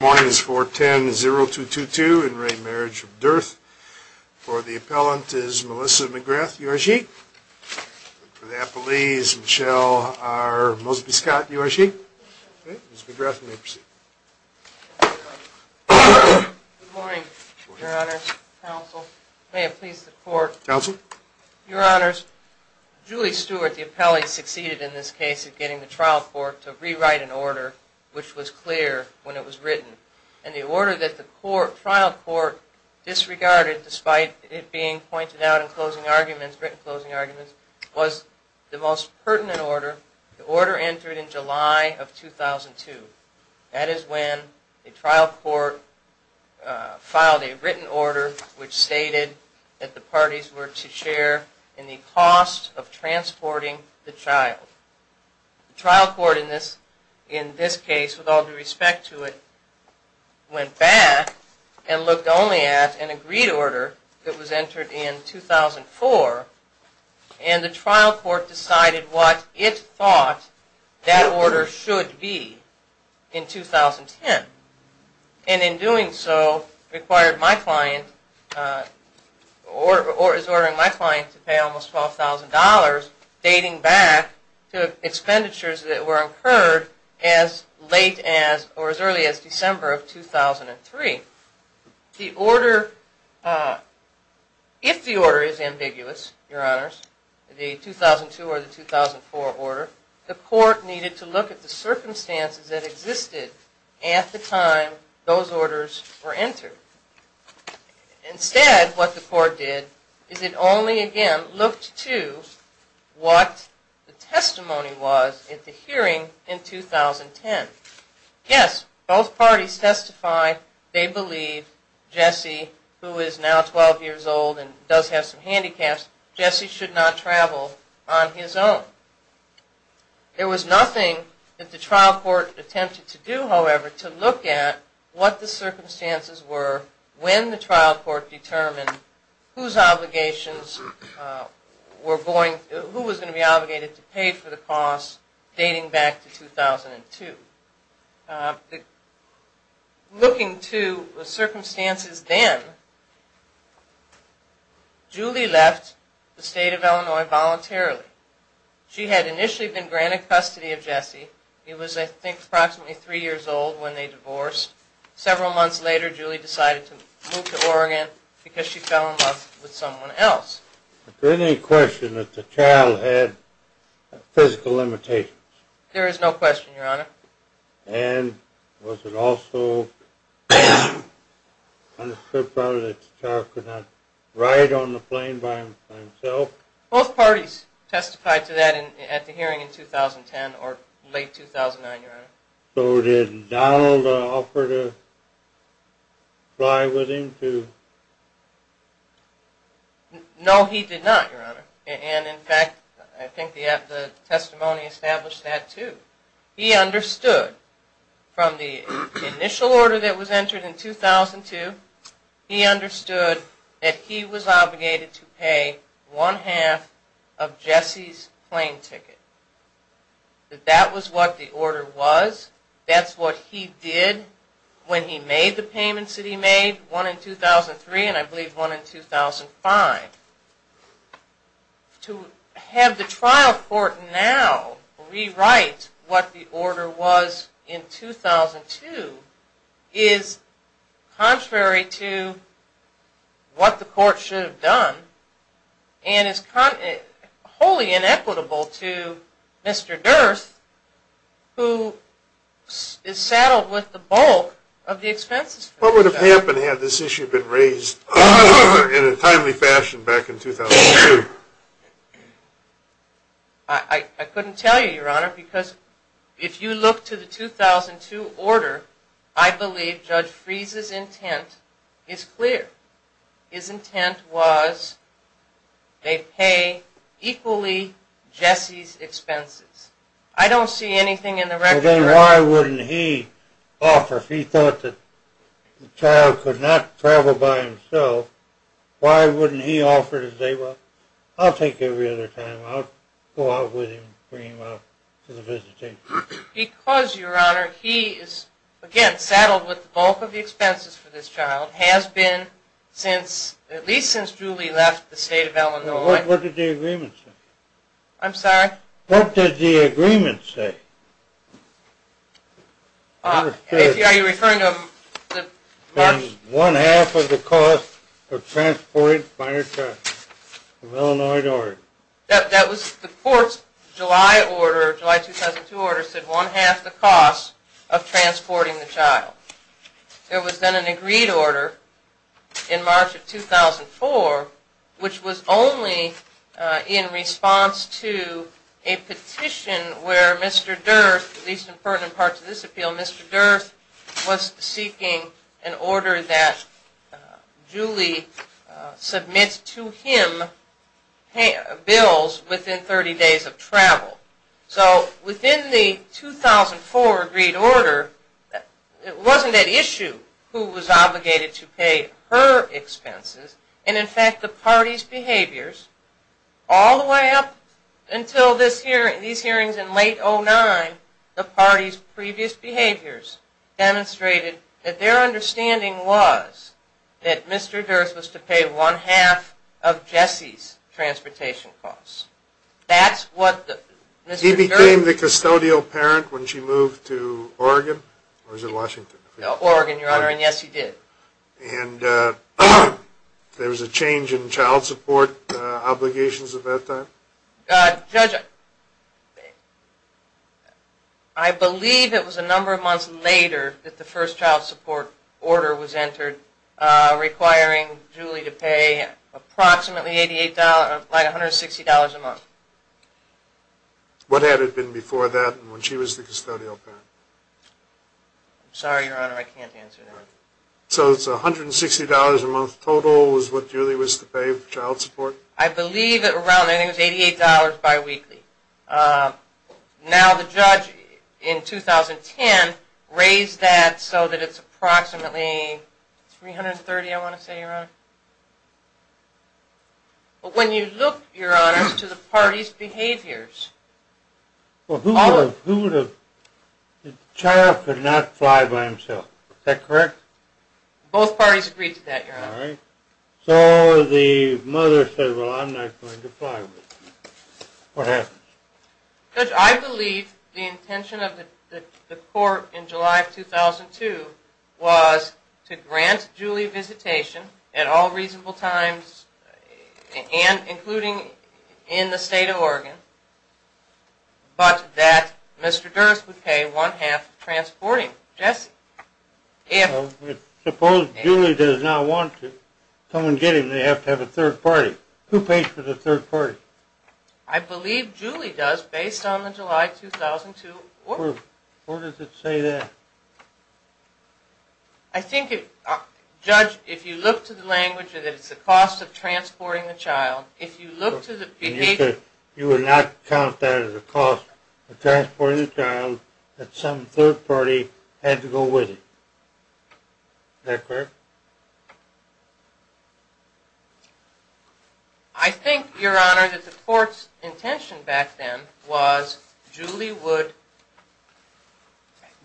Morning is 410-0222 in re. Marriage of Dearth. For the appellant is Melissa McGrath, you are she? For the appellee is Michelle R. Mosby-Scott, you are she? Okay, Ms. McGrath, you may proceed. Good morning, Your Honor, counsel. May it please the court. Counsel. Your Honors, Julie Stewart, the appellee, succeeded in this case of getting the trial court to rewrite an order which was clear when it was written. And the order that the trial court disregarded despite it being pointed out in closing arguments, written closing arguments, was the most pertinent order. The order entered in July of 2002. That is when the trial court filed a written order which stated that the parties were to share in the cost of transporting the child. The trial court in this, in this case, with all due respect to it, went back and looked only at an agreed order that was entered in 2004. And the trial court decided what it thought that order should be in 2010. And in doing so required my client, or is ordering my client to pay almost $12,000 dating back to expenditures that were incurred as late as, or as early as, December of 2003. The order, if the order is ambiguous, Your Honors, the 2002 or the 2004 order, the court needed to look at the circumstances that existed at the time those orders were entered. Instead, what the court did is it only again looked to what the testimony was at the hearing in 2010. Yes, both parties testified they believe Jesse, who is now 12 years old and does have some handicaps, Jesse should not travel on his own. There was nothing that the trial court attempted to do, however, to look at what the circumstances were when the trial court determined whose obligations were going, who was going to be obligated to pay for the costs dating back to 2002. Looking to the circumstances then, Julie left the state of Illinois voluntarily. She had initially been granted custody of Jesse. He was, I think, approximately three years old when they divorced. Several months later, Julie decided to move to Oregon because she fell in love with someone else. Is there any question that the child had physical limitations? There is no question, Your Honor. And was it also understood, probably, that the child could not ride on the plane by himself? Both parties testified to that at the hearing in 2010, or late 2009, Your Honor. So did Donald offer to fly with him, too? No, he did not, Your Honor. And, in fact, I think the testimony established that, too. He understood from the initial order that was entered in 2002, he understood that he was obligated to pay one-half of Jesse's plane ticket. That that was what the order was. That's what he did when he made the payments that he made. One in 2003, and I believe one in 2005. To have the trial court now rewrite what the order was in 2002 is contrary to what the court should have done, and is wholly inequitable to Mr. Durth, who is saddled with the bulk of the expenses. What would have happened had this issue been raised in a timely fashion back in 2002? I couldn't tell you, Your Honor, because if you look to the 2002 order, I believe Judge Freese's intent is clear. His intent was they pay equally Jesse's expenses. I don't see anything in the record... Well, then why wouldn't he offer, if he thought that the child could not travel by himself, why wouldn't he offer to say, I'll take every other time, I'll go out with him, bring him out to the visitation. Because, Your Honor, he is, again, saddled with the bulk of the expenses for this child, has been since, at least since Julie left the state of Illinois. What did the agreement say? I'm sorry? What did the agreement say? Are you referring to... One half of the cost of transporting by yourself of Illinois. That was the court's July order, July 2002 order, said one half the cost of transporting the child. There was then an agreed order in March of 2004 which was only in response to a petition where Mr. Durth, at least in part to this appeal, Mr. Durth was seeking an order that Julie submits to him bills within thirty days of travel. So, within the 2004 agreed order, it wasn't at issue who was obligated to pay her expenses, and, in fact, the party's behaviors all the way up until these hearings in late 2009, the party's previous behaviors demonstrated that their understanding was that Mr. Durth was to pay one half of Jesse's transportation costs. That's what Mr. Durth... He became the custodial parent when she moved to Oregon, or was it Washington? No, Oregon, Your Honor, and yes he did. And, uh, there was a change in child support obligations at that time? Uh, Judge, I believe it was a number of months later that the first child support order was entered requiring Julie to pay approximately $88, like $160 a month. What had it been before that when she was the custodial parent? I'm sorry, Your Honor, I can't answer that. So it's $160 a month total was what Julie was to pay for child support? I believe it was around $88 bi-weekly. Uh, now the judge in 2010 raised that so that it's approximately $330, I want to say, Your Honor. But when you look, Your Honor, to the party's behaviors... Well, who would have... The child could not fly by himself, is that correct? Both parties agreed to that, Your Honor. So the mother said, well, I'm not going to fly with you. What happened? Judge, I believe the intention of the court in July of 2002 was to grant Julie visitation at all reasonable times and including in the state of Oregon, but that Mr. Durst would pay one half of transporting Jesse. If... Suppose Julie does not want to come and get him, they have to have a third party. Who pays for the third party? I believe Julie does, based on the July 2002 order. Where does it say that? I think it... Judge, if you look to the language that it's the cost of transporting the child, if you look to the... You would not count that as a cost of transporting the child that some third party had to go with it. Is that correct? I think, Your Honor, that the court's intention back then was Julie would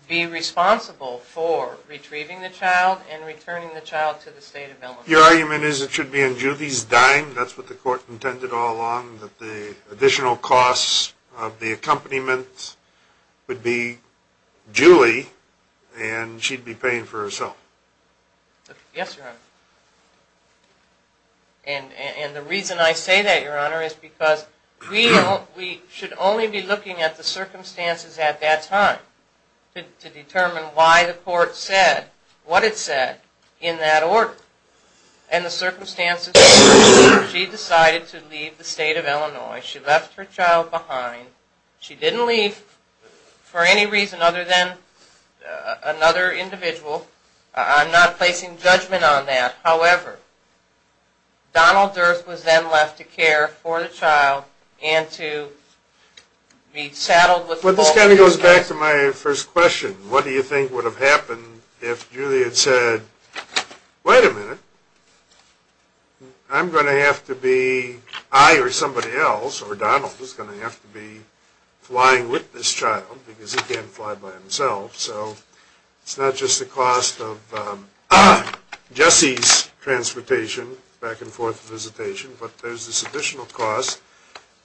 be responsible for retrieving the child and returning the child to the state of Illinois. Your argument is it should be in Julie's dime, that's what the court intended all along, that the additional costs of the accompaniment would be Julie and she'd be paying for herself. Yes, Your Honor. And the reason I say that, Your Honor, is because we should only be looking at the circumstances at that time to determine why the court said what it said in that order. And the circumstances... She decided to leave the state of Illinois. She left her child behind. She didn't leave for any reason other than another individual. I'm not placing judgment on that. However, Donald Durst was then left to care for the child and to be saddled with all the responsibilities... Well, this kind of goes back to my first question. What do you think would have happened if Julie had said, wait a minute, I'm going to have to be, I or somebody else, or Donald is going to have to be flying with this child, because he can't fly by himself, so it's not just the cost of Jesse's transportation, back and forth visitation, but there's this additional cost,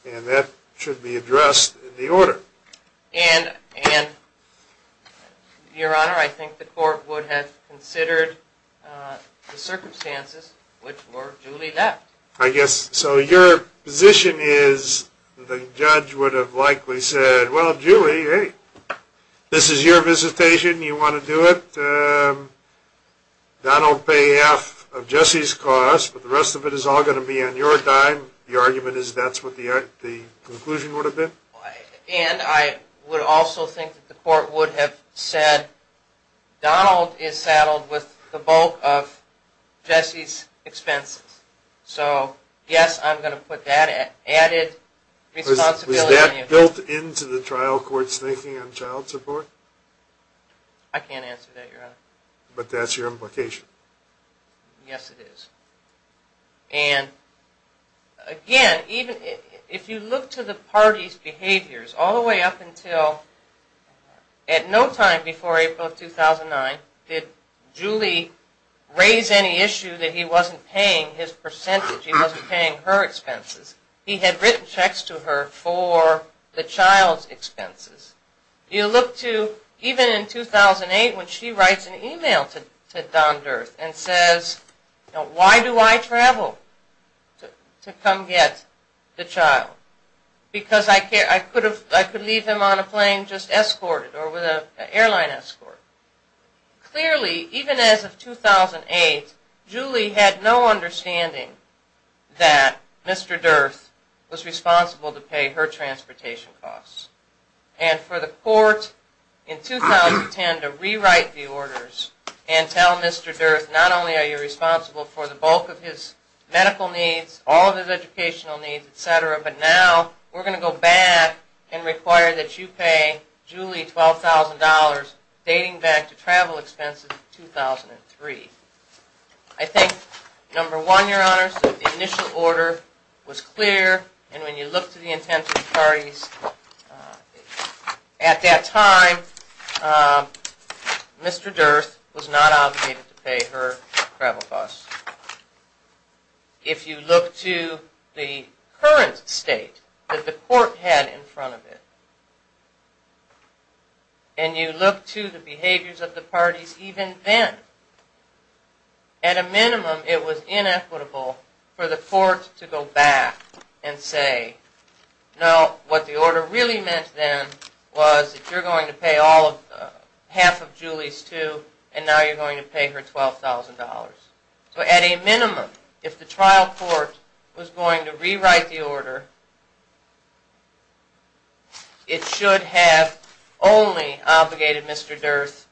and that should be addressed in the order. And, and your honor, I think the court would have considered the circumstances which were Julie left. I guess, so your position is the judge would have likely said, well, Julie, hey, this is your visitation, you want to do it, Donald pay half of Jesse's cost, but the rest of it is all going to be on your dime. Your argument is that's what the conclusion would have been? And I would also think that the court would have said Donald is saddled with the bulk of Jesse's expenses, so yes, I'm going to put that at added responsibility. Was that built into the trial court's thinking on child support? I can't answer that, your honor. But that's your implication? Yes, it is. And again, even if you look to the party's behaviors, all the way up until at no time before April of 2009, did Julie raise any issue that he wasn't paying his percentage, he wasn't paying her expenses. He had written checks to her for the child's expenses. You look to, even in 2008, when she writes an email to Don Durth and says, why do I travel to come get the child? Because I could leave him on a plane just escorted, or with an airline escort. Clearly, even as of 2008, Julie had no understanding that Mr. Durth was responsible to pay her transportation costs. And for the court in 2010 to rewrite the orders and tell Mr. Durth, not only are you responsible for the bulk of his medical needs, all of his educational needs, etc., but now we're going to go back and require that you pay Julie $12,000 dating back to travel expenses in 2003. I think, number one, your honor, that the initial order was clear, and when you look to the intent of the parties, at that time, Mr. Durth was not obligated to pay her travel costs. If you look to the current state that the court had in front of it, and you look to the behaviors of the parties even then, at a minimum, it was inequitable for the court to go back and say, no, what the order really meant then was that you're going to pay half of Julie's $2,000 and now you're going to pay her $12,000. So at a minimum, if the trial court was going to rewrite the order, it should have only obligated Mr. Durth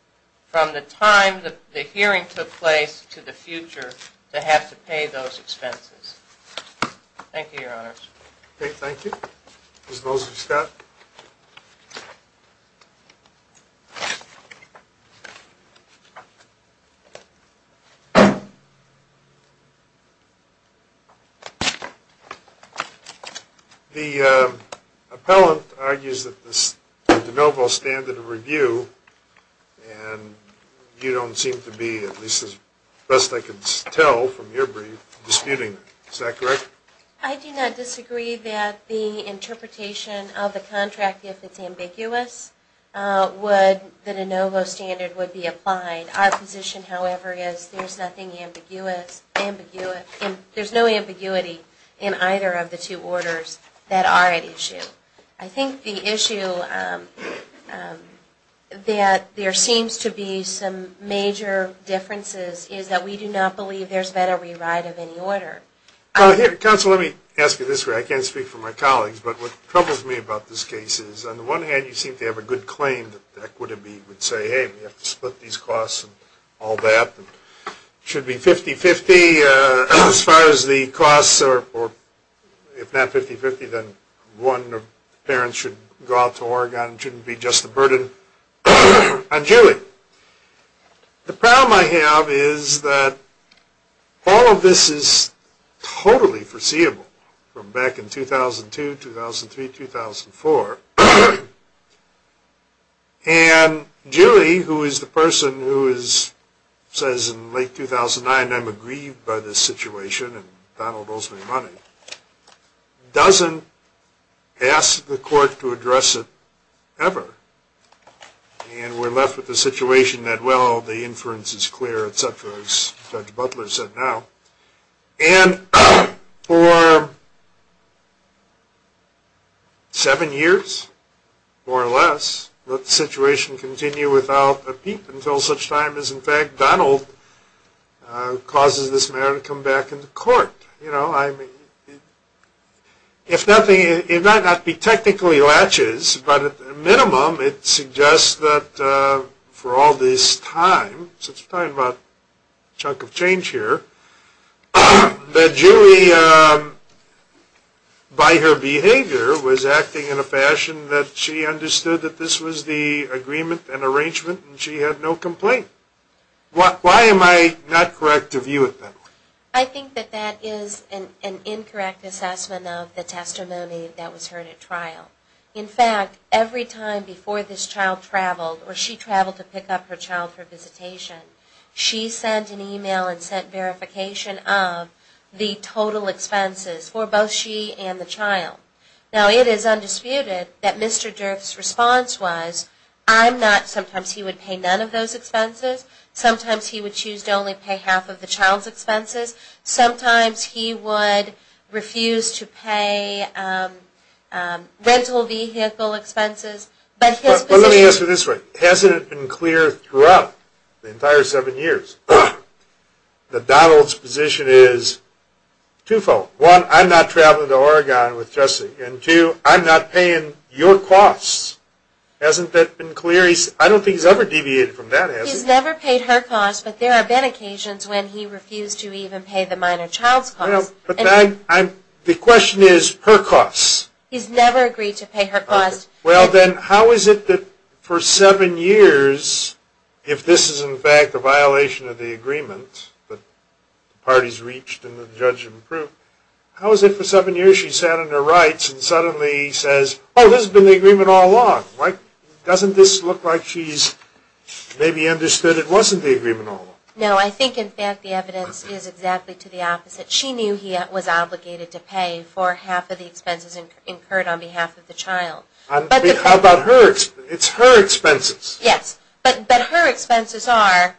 from the time the hearing took place to the future to have to pay those expenses. Thank you, your honors. Okay, thank you. Ms. Mosley-Scott? The appellant argues that the de novo standard of review, and you don't seem to be, at least as best I can tell from your brief, disputing that. Is that correct? I do not disagree that the interpretation of the contract, if it's ambiguous, would, the de novo standard would be applied. Our position, however, is there's nothing ambiguous, there's no ambiguity in either of the two orders that are at issue. I think the issue that there seems to be some major differences is that we do not believe there's been a rewrite of any order. Counsel, let me ask you this way. I can't speak for my colleagues, but what troubles me about this case is, on the one hand, you seem to have a good claim that the equity would say, hey, we have to split these costs and all that, should be 50-50 as far as the costs, or if not 50-50, then one of the parents should go out to Oregon, shouldn't be just a burden on Julie. The problem I have is that all of this is totally foreseeable from back in 2002, 2003, 2004, and Julie, who is the person who is, says in late 2009, I'm aggrieved by this situation, and Donald owes me money, doesn't ask the court to address it ever, and we're left with the situation that, well, the inference is clear, et cetera, as Judge Butler said now, and for seven years, more or less, let the situation continue without a peep until such time as, in fact, Donald causes this matter to come back in the court. You know, I mean, if nothing, it might not be technically latches, but at the minimum, it suggests that for all this time, since we're talking about a chunk of change here, that Julie, by her behavior, was acting in a fashion that she understood that this was the agreement and arrangement, and she had no complaint. Why am I not correct to view it that way? I think that that is an incorrect assessment of the testimony that was heard at trial. In fact, every time before this child traveled, or she traveled to pick up her child for visitation, she sent an email and sent verification of the total expenses for both she and the child. Now, it is undisputed that Mr. Durff's response was, I'm not, sometimes he would pay none of those expenses, sometimes he would choose to only pay half of the child's expenses, sometimes he would refuse to pay rental vehicle expenses, but his position- Well, let me ask you this way. Hasn't it been clear throughout the entire seven years that Donald's position is twofold? One, I'm not traveling to Oregon with Jesse, and two, I'm not paying your costs. Hasn't that been clear? I don't think he's ever deviated from that, has he? He's never paid her costs, but there have been occasions when he refused to even pay the minor child's costs. But then, the question is her costs. He's never agreed to pay her costs. Well, then, how is it that for seven years, if this is, in fact, a violation of the agreement that the parties reached and the judge approved, how is it for seven years she sat on her rights and suddenly says, oh, this has been the agreement all along? Doesn't this look like she's maybe understood it wasn't the agreement all along? No, I think, in fact, the evidence is exactly to the opposite. She knew he was obligated to pay for half of the expenses incurred on behalf of the child. How about hers? It's her expenses. Yes, but her expenses are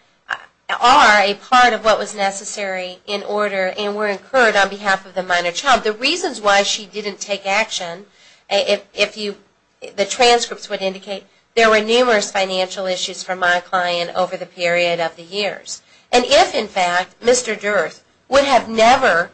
a part of what was necessary in order and were incurred on behalf of the minor child. The reasons why she didn't take action, the transcripts would indicate there were numerous financial issues from my client over the period of the years. And if, in fact, Mr. Durst would have never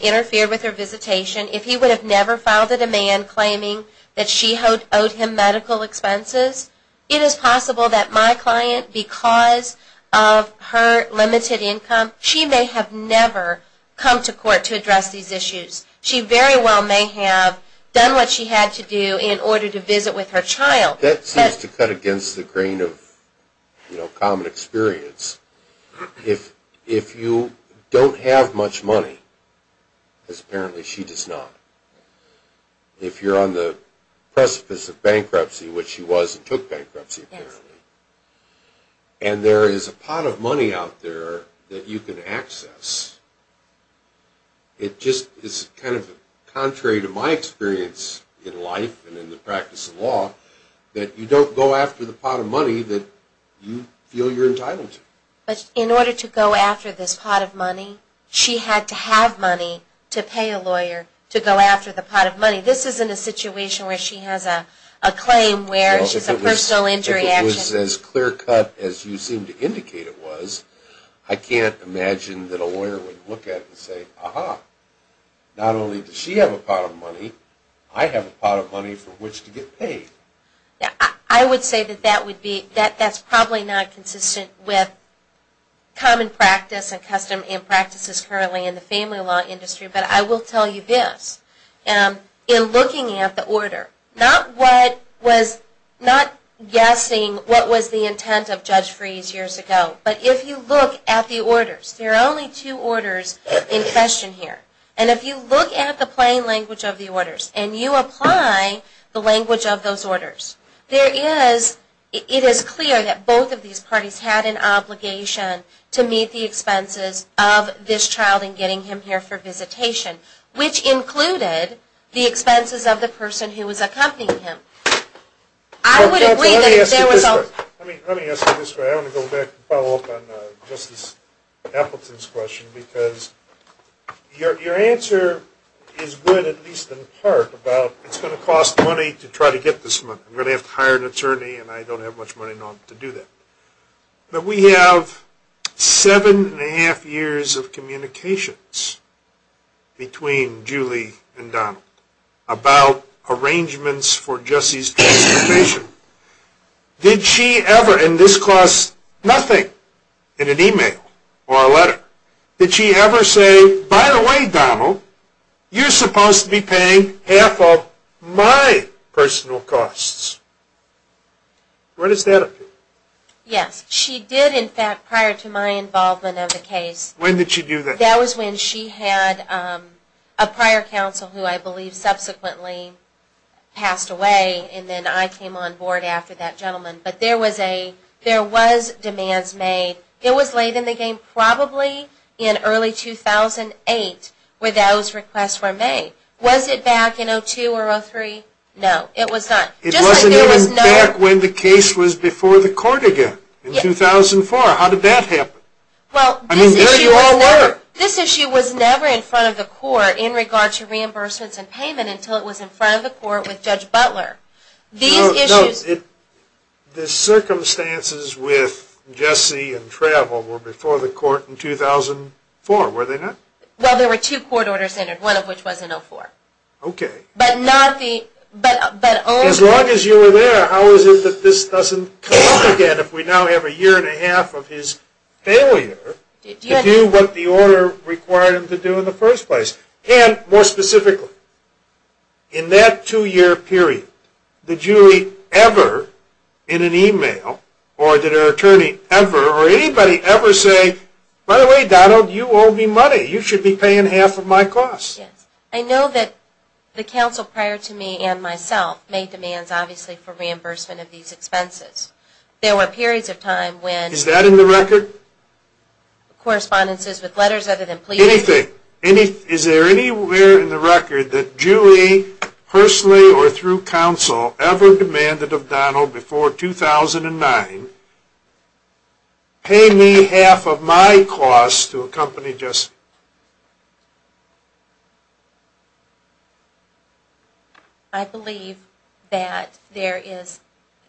interfered with her visitation, if he would have never filed a demand claiming that she owed him medical expenses, it is possible that my client, because of her limited income, she may have never come to court to address these issues. She very well may have done what she had to do in order to visit with her child. That seems to cut against the grain of common experience. If you don't have much money, because apparently she does not, if you're on the precipice of bankruptcy, which she was and took bankruptcy apparently, and there is a pot of money out there that you can access, it just is kind of contrary to my experience in life and in the practice of law that you don't go after the pot of money that you feel you're entitled to. But in order to go after this pot of money, she had to have money to pay a lawyer to go after the pot of money. This isn't a situation where she has a claim where she's a personal injury action. If it was as clear cut as you seem to indicate it was, I can't imagine that a lawyer would look at it and say, aha, not only does she have a pot of money, I have a pot of money for which to get paid. Yeah, I would say that that would be, that that's probably not consistent with common practice and custom impractices currently in the family law industry. But I will tell you this, in looking at the order, not what was, not guessing what was the intent of Judge Freese years ago, but if you look at the orders, there are only two orders in question here. And if you look at the plain language of the orders and you apply the language of those orders, there is, it is clear that both of these parties had an obligation to meet the expenses of this child in getting him here for visitation, which included the expenses of the person who was accompanying him. I would agree that if there was a- Judge, let me ask you this way. I want to go back and follow up on Justice Appleton's question, because your answer is good, at least in part, about it's going to cost money to try to get this man because I'm going to have to hire an attorney and I don't have much money to do that. But we have seven and a half years of communications between Julie and Donald about arrangements for Jesse's transportation. Did she ever, and this costs nothing, in an email or a letter, did she ever say, by the way, Donald, you're supposed to be paying half of my personal costs? Where does that appear? Yes, she did, in fact, prior to my involvement of the case. When did she do that? That was when she had a prior counsel who I believe subsequently passed away and then I came on board after that gentleman. But there was a, there was demands made. It was late in the game, probably in early 2008 where those requests were made. Was it back in 2002 or 2003? No, it was not. It wasn't even back when the case was before the court again, in 2004. How did that happen? Well, this issue was never in front of the court in regard to reimbursements and payment until it was in front of the court with Judge Butler. These issues... The circumstances with Jesse and travel were before the court in 2004, were they not? Well, there were two court orders entered, one of which was in 2004. Okay. But not the, but only... As long as you were there, how is it that this doesn't come up again if we now have a year and a half of his failure to do what the order required him to do in the first place? And more specifically, in that two year period, did you ever, in an email, or did her attorney ever, or anybody ever say, by the way, Donald, you owe me money. You should be paying half of my costs. Yes. I know that the counsel prior to me and myself made demands, obviously, for reimbursement of these expenses. There were periods of time when... Is that in the record? Correspondences with letters other than plea... Anything. Is there anywhere in the record that Julie, personally or through counsel, ever demanded of Donald before 2009, pay me half of my costs to accompany Jesse? I believe that there is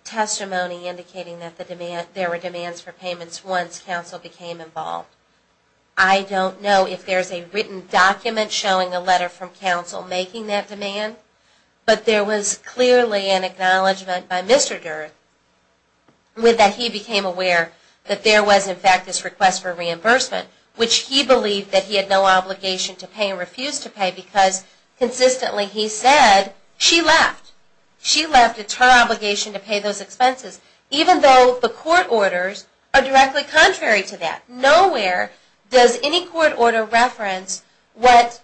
testimony indicating that there were demands for payments once counsel became involved. I don't know if there's a written document showing a letter from counsel making that demand, but there was clearly an acknowledgment by Mr. Dirk with that he became aware that there was, in fact, this request for reimbursement, which he believed that he had no obligation to pay and refused to pay, because consistently he said she left. She left, it's her obligation to pay those expenses, even though the court orders are directly contrary to that. Nowhere does any court order reference what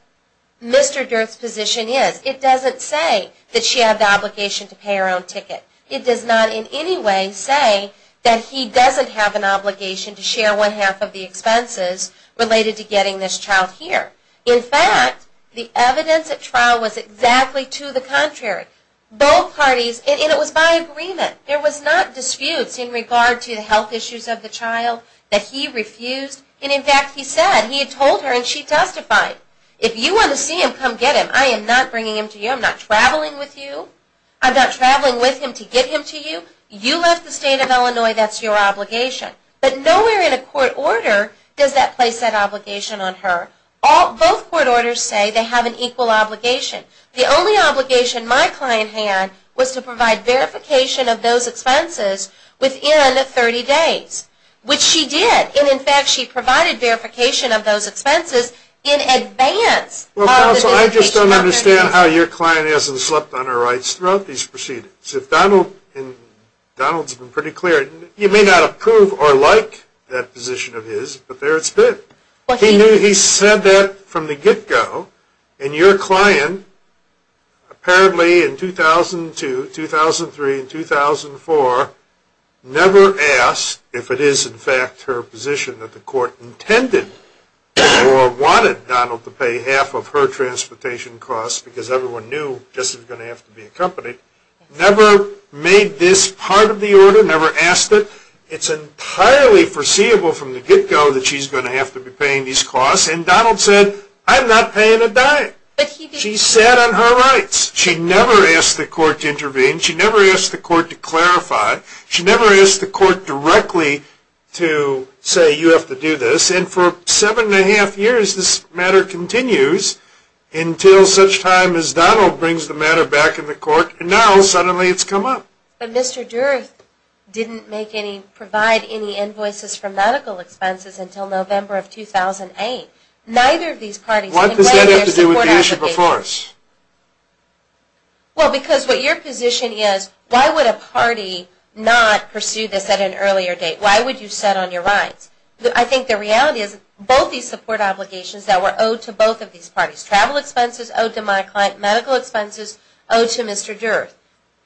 Mr. Dirk's position is. It doesn't say that she had the obligation to pay her own ticket. It does not in any way say that he doesn't have an obligation to share one half of the expenses related to getting this child here. In fact, the evidence at trial was exactly to the contrary. Both parties, and it was by agreement, there was not disputes in regard to the health issues of the child that he refused. And in fact, he said, he had told her and she testified. If you want to see him, come get him. I am not bringing him to you. I'm not traveling with you. I'm not traveling with him to get him to you. You left the state of Illinois, that's your obligation. But nowhere in a court order does that place that obligation on her. Both court orders say they have an equal obligation. The only obligation my client had was to provide verification of those expenses within 30 days, which she did. And in fact, she provided verification of those expenses in advance of the verification of those expenses. I understand how your client hasn't slept on her rights throughout these proceedings. If Donald, and Donald's been pretty clear, you may not approve or like that position of his, but there it's been. He knew he said that from the get-go. And your client, apparently in 2002, 2003, and 2004, never asked if it is, in fact, her position that the court intended or wanted Donald to pay half of her transportation costs, because everyone knew this was going to have to be accompanied, never made this part of the order, never asked it. It's entirely foreseeable from the get-go that she's going to have to be paying these costs. And Donald said, I'm not paying a dime. She sat on her rights. She never asked the court to intervene. She never asked the court to clarify. She never asked the court directly to say you have to do this. And for seven and a half years, this matter continues until such time as Donald brings the matter back in the court. And now, suddenly, it's come up. But Mr. Durth didn't provide any invoices for medical expenses until November of 2008. Neither of these parties can weigh their support application. What does that have to do with the issue before us? Well, because what your position is, why would a party not pursue this at an earlier date? Why would you sit on your rights? I think the reality is both these support obligations that were owed to both of these parties, travel expenses owed to my client, medical expenses owed to Mr. Durth,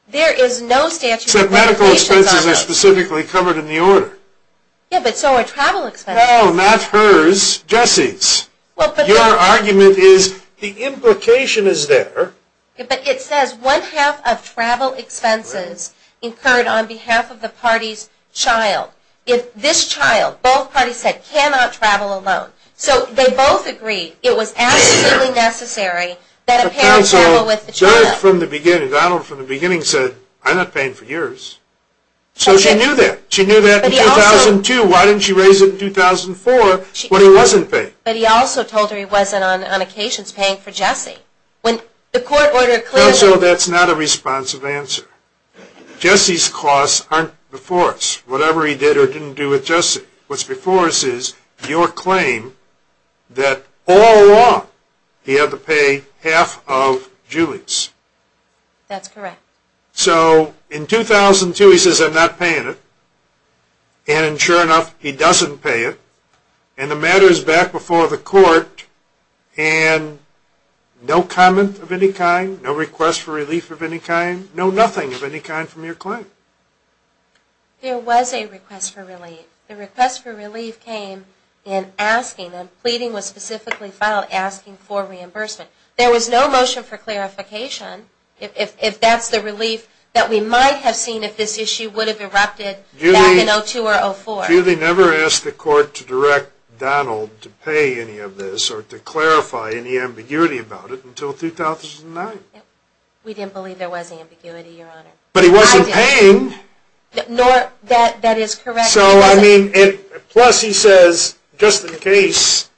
there is no statute of limitations on those. Except medical expenses are specifically covered in the order. Yeah, but so are travel expenses. No, not hers, Jessie's. Your argument is the implication is there. But it says one half of travel expenses incurred on behalf of the party's child. This child, both parties said, cannot travel alone. So they both agree it was absolutely necessary that a parent travel with the child. From the beginning, Donald, from the beginning, said I'm not paying for yours. So she knew that. She knew that in 2002. Why didn't she raise it in 2004 when he wasn't paying? But he also told her he wasn't, on occasion, paying for Jessie. When the court ordered a clinical. That's not a responsive answer. Jessie's costs aren't before us. Whatever he did or didn't do with Jessie. What's before us is your claim that all along he had to pay half of Julie's. That's correct. So in 2002, he says I'm not paying it. And sure enough, he doesn't pay it. And the matter is back before the court. And no comment of any kind, no request for relief of any kind, no nothing of any kind from your claim. There was a request for relief. The request for relief came in asking, and pleading was specifically filed, asking for reimbursement. There was no motion for clarification, if that's the relief that we might have seen if this issue would have erupted back in 2002 or 2004. Julie never asked the court to direct Donald to pay any of this or to clarify any ambiguity about it until 2009. We didn't believe there was ambiguity, Your Honor. But he wasn't paying. No, that is correct. So I mean, plus he says, just in case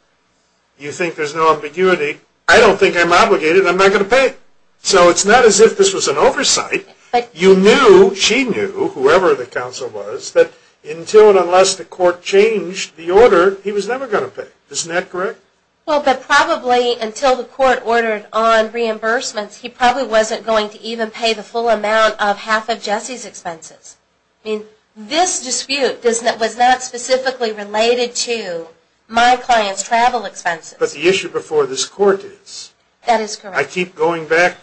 you think there's no ambiguity, I don't think I'm obligated. I'm not going to pay it. So it's not as if this was an oversight. You knew, she knew, whoever the counsel was, that until and unless the court changed the order, he was never going to pay. Isn't that correct? Well, but probably until the court ordered on reimbursements, he probably wasn't going to even pay the full amount of half of Jesse's expenses. I mean, this dispute was not specifically related to my client's travel expenses. But the issue before this court is. That is correct. I keep going back.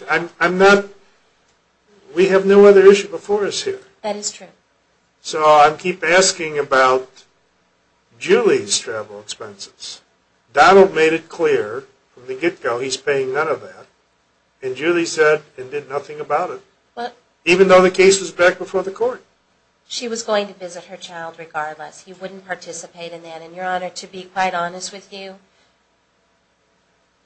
We have no other issue before us here. That is true. So I keep asking about Julie's travel expenses. Donald made it clear from the get-go he's paying none of that. And Julie said and did nothing about it, even though the case was back before the court. She was going to visit her child regardless. He wouldn't participate in that. And your honor, to be quite honest with you,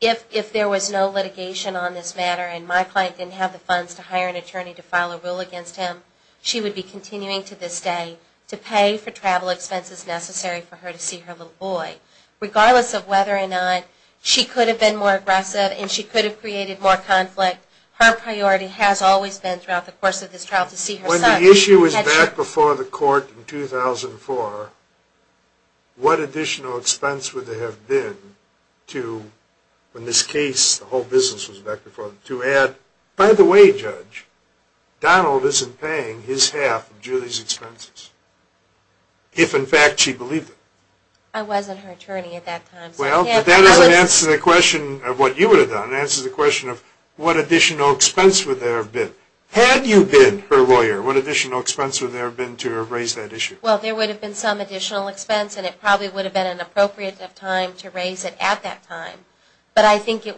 if there was no litigation on this matter and my client didn't have the funds to hire an attorney to file a rule against him, she would be continuing to this day to pay for travel expenses necessary for her to see her little boy, regardless of whether or not she could have been more aggressive and she could have created more conflict. Her priority has always been throughout the course of this trial to see her son. When the issue was back before the court in 2004, what additional expense would there have been to, when this case, the whole business was back before the court, to add, by the way, judge, Donald isn't paying his half of Julie's expenses, if in fact she believed it. I wasn't her attorney at that time. Well, that doesn't answer the question of what you would have done. It answers the question of what additional expense would there have been. Had you been her lawyer, what additional expense would there have been to raise that issue? Well, there would have been some additional expense and it probably would have been an appropriate time to raise it at that time. But I think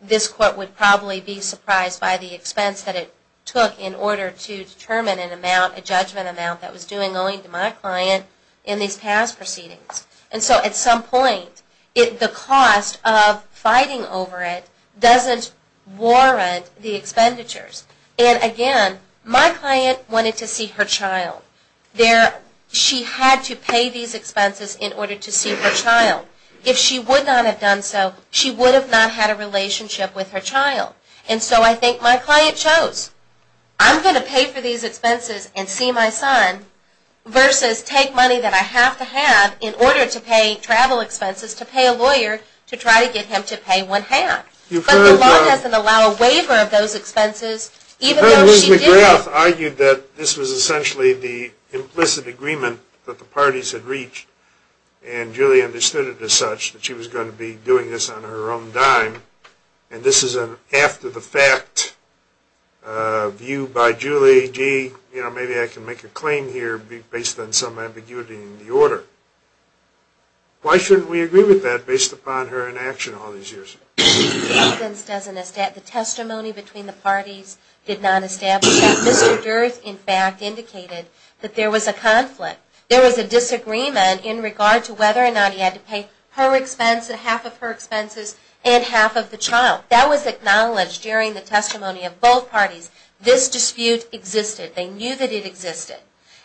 this court would probably be surprised by the expense that it took in order to determine an amount, a judgment amount, that was doing only to my client in these past proceedings. And so at some point, the cost of fighting over it doesn't warrant the expenditures. And again, my client wanted to see her child. She had to pay these expenses in order to see her child. If she would not have done so, she would have not had a relationship with her child. And so I think my client chose, I'm going to pay for these expenses and see my son, versus take money that I have to have in order to pay travel expenses to pay a lawyer to try to get him to pay one half. But the law doesn't allow a waiver of those expenses even though she did. Louise McGrath argued that this was essentially the implicit agreement that the parties had reached. And Julie understood it as such, that she was going to be doing this on her own dime. And this is an after-the-fact view by Julie. Maybe I can make a claim here based on some ambiguity in the order. Why shouldn't we agree with that based upon her inaction all these years? The testimony between the parties did not establish that. Mr. Durth, in fact, indicated that there was a conflict. There was a disagreement in regard to whether or not he had to pay half of her expenses and half of the child. That was acknowledged during the testimony of both parties. This dispute existed. They knew that it existed.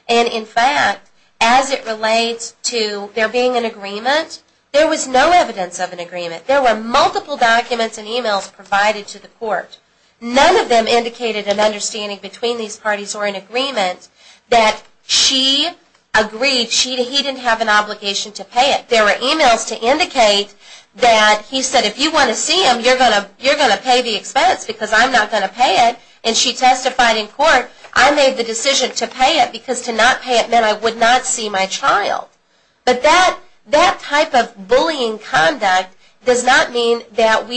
And in fact, as it relates to there being an agreement, there was no evidence of an agreement. There were multiple documents and emails provided to the court. None of them indicated an understanding between these parties or an agreement that she agreed. She didn't have an obligation to pay it. There were emails to indicate that he said, if you want to see him, you're going to pay the expense because I'm not going to pay it. And she testified in court, I made the decision to pay it because to not pay it meant I would not see my child. But that type of bullying conduct does not mean that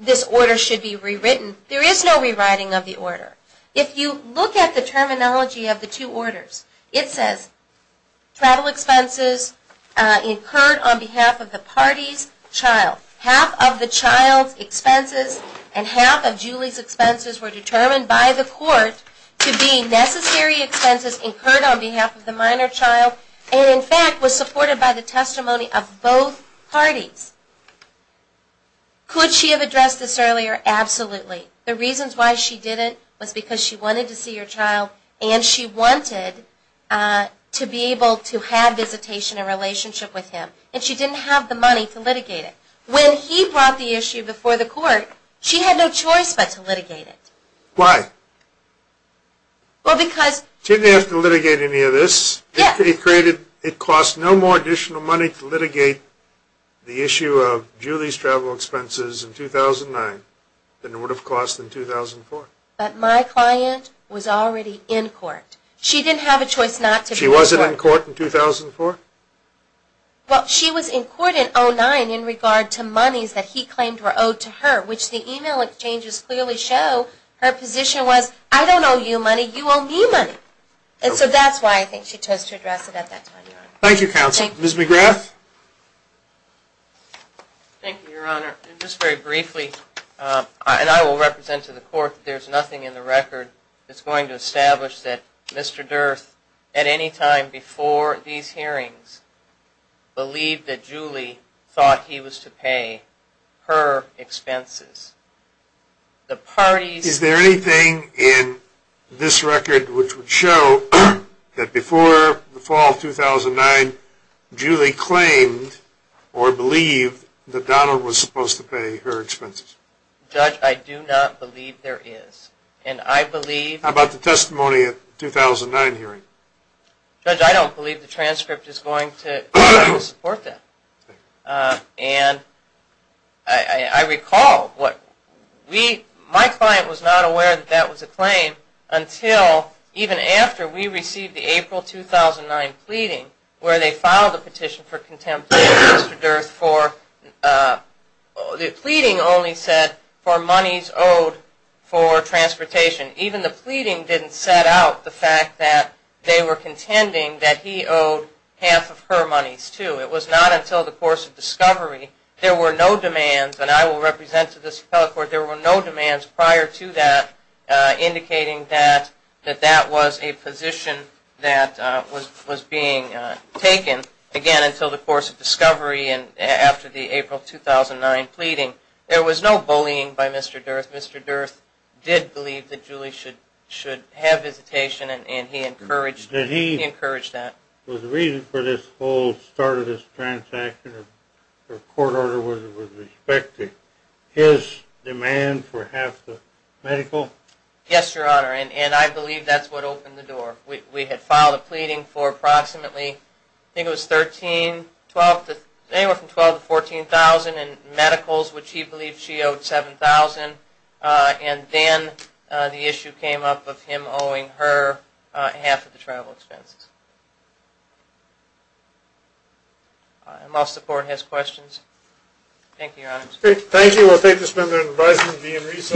this order should be rewritten. There is no rewriting of the order. If you look at the terminology of the two orders, it says, travel expenses incurred on behalf of the party's child. Half of the child's expenses and half of Julie's expenses were determined by the court to be necessary expenses incurred on behalf of the minor child, and in fact, was supported by the testimony of both parties. Could she have addressed this earlier? Absolutely. The reasons why she didn't was because she wanted to see her child. And she wanted to be able to have visitation and relationship with him. And she didn't have the money to litigate it. When he brought the issue before the court, she had no choice but to litigate it. Why? Well, because. Didn't have to litigate any of this. It cost no more additional money to litigate the issue of Julie's travel expenses in 2009 than it would have cost in 2004. But my client was already in court. She didn't have a choice not to be in court. She wasn't in court in 2004? Well, she was in court in 2009 in regard to monies that he claimed were owed to her, which the email exchanges clearly show her position was, I don't owe you money. You owe me money. And so that's why I think she chose to address it at that time, Your Honor. Thank you, counsel. Ms. McGrath? Thank you, Your Honor. Just very briefly, and I will represent to the court that there's nothing in the record that's going to establish that Mr. Durth, at any time before these hearings, believed that Julie thought he was to pay her expenses. The parties- Is there anything in this record which would show that before the fall of 2009, Julie claimed or believed that Donald was supposed to pay her expenses? Judge, I do not believe there is. And I believe- How about the testimony at the 2009 hearing? Judge, I don't believe the transcript is going to support that. And I recall what we- my client was not aware that that was a claim until even after we received the April 2009 pleading, where they filed a petition for contempt of Mr. Durth for- the pleading only said for monies owed for transportation. Even the pleading didn't set out the fact that they were contending that he owed half of her monies too. It was not until the course of discovery, there were no demands, and I will represent to this court, there were no demands prior to that indicating that that was a position that was being taken. Again, until the course of discovery and after the April 2009 pleading, there was no bullying by Mr. Durth. Mr. Durth did believe that Julie should have hesitation and he encouraged that. Was the reason for this whole start of this transaction or court order was it with respect to his demand for half the medical? Yes, Your Honor, and I believe that's what opened the door. We had filed a pleading for approximately, I think it was $13,000, anywhere from $12,000 to $14,000 in medicals, which he believed she owed $7,000. And then the issue came up of him owing her half of the travel expenses. Unless the court has questions. Thank you, Your Honor. Thank you. We'll take this member and advise him to be in recess.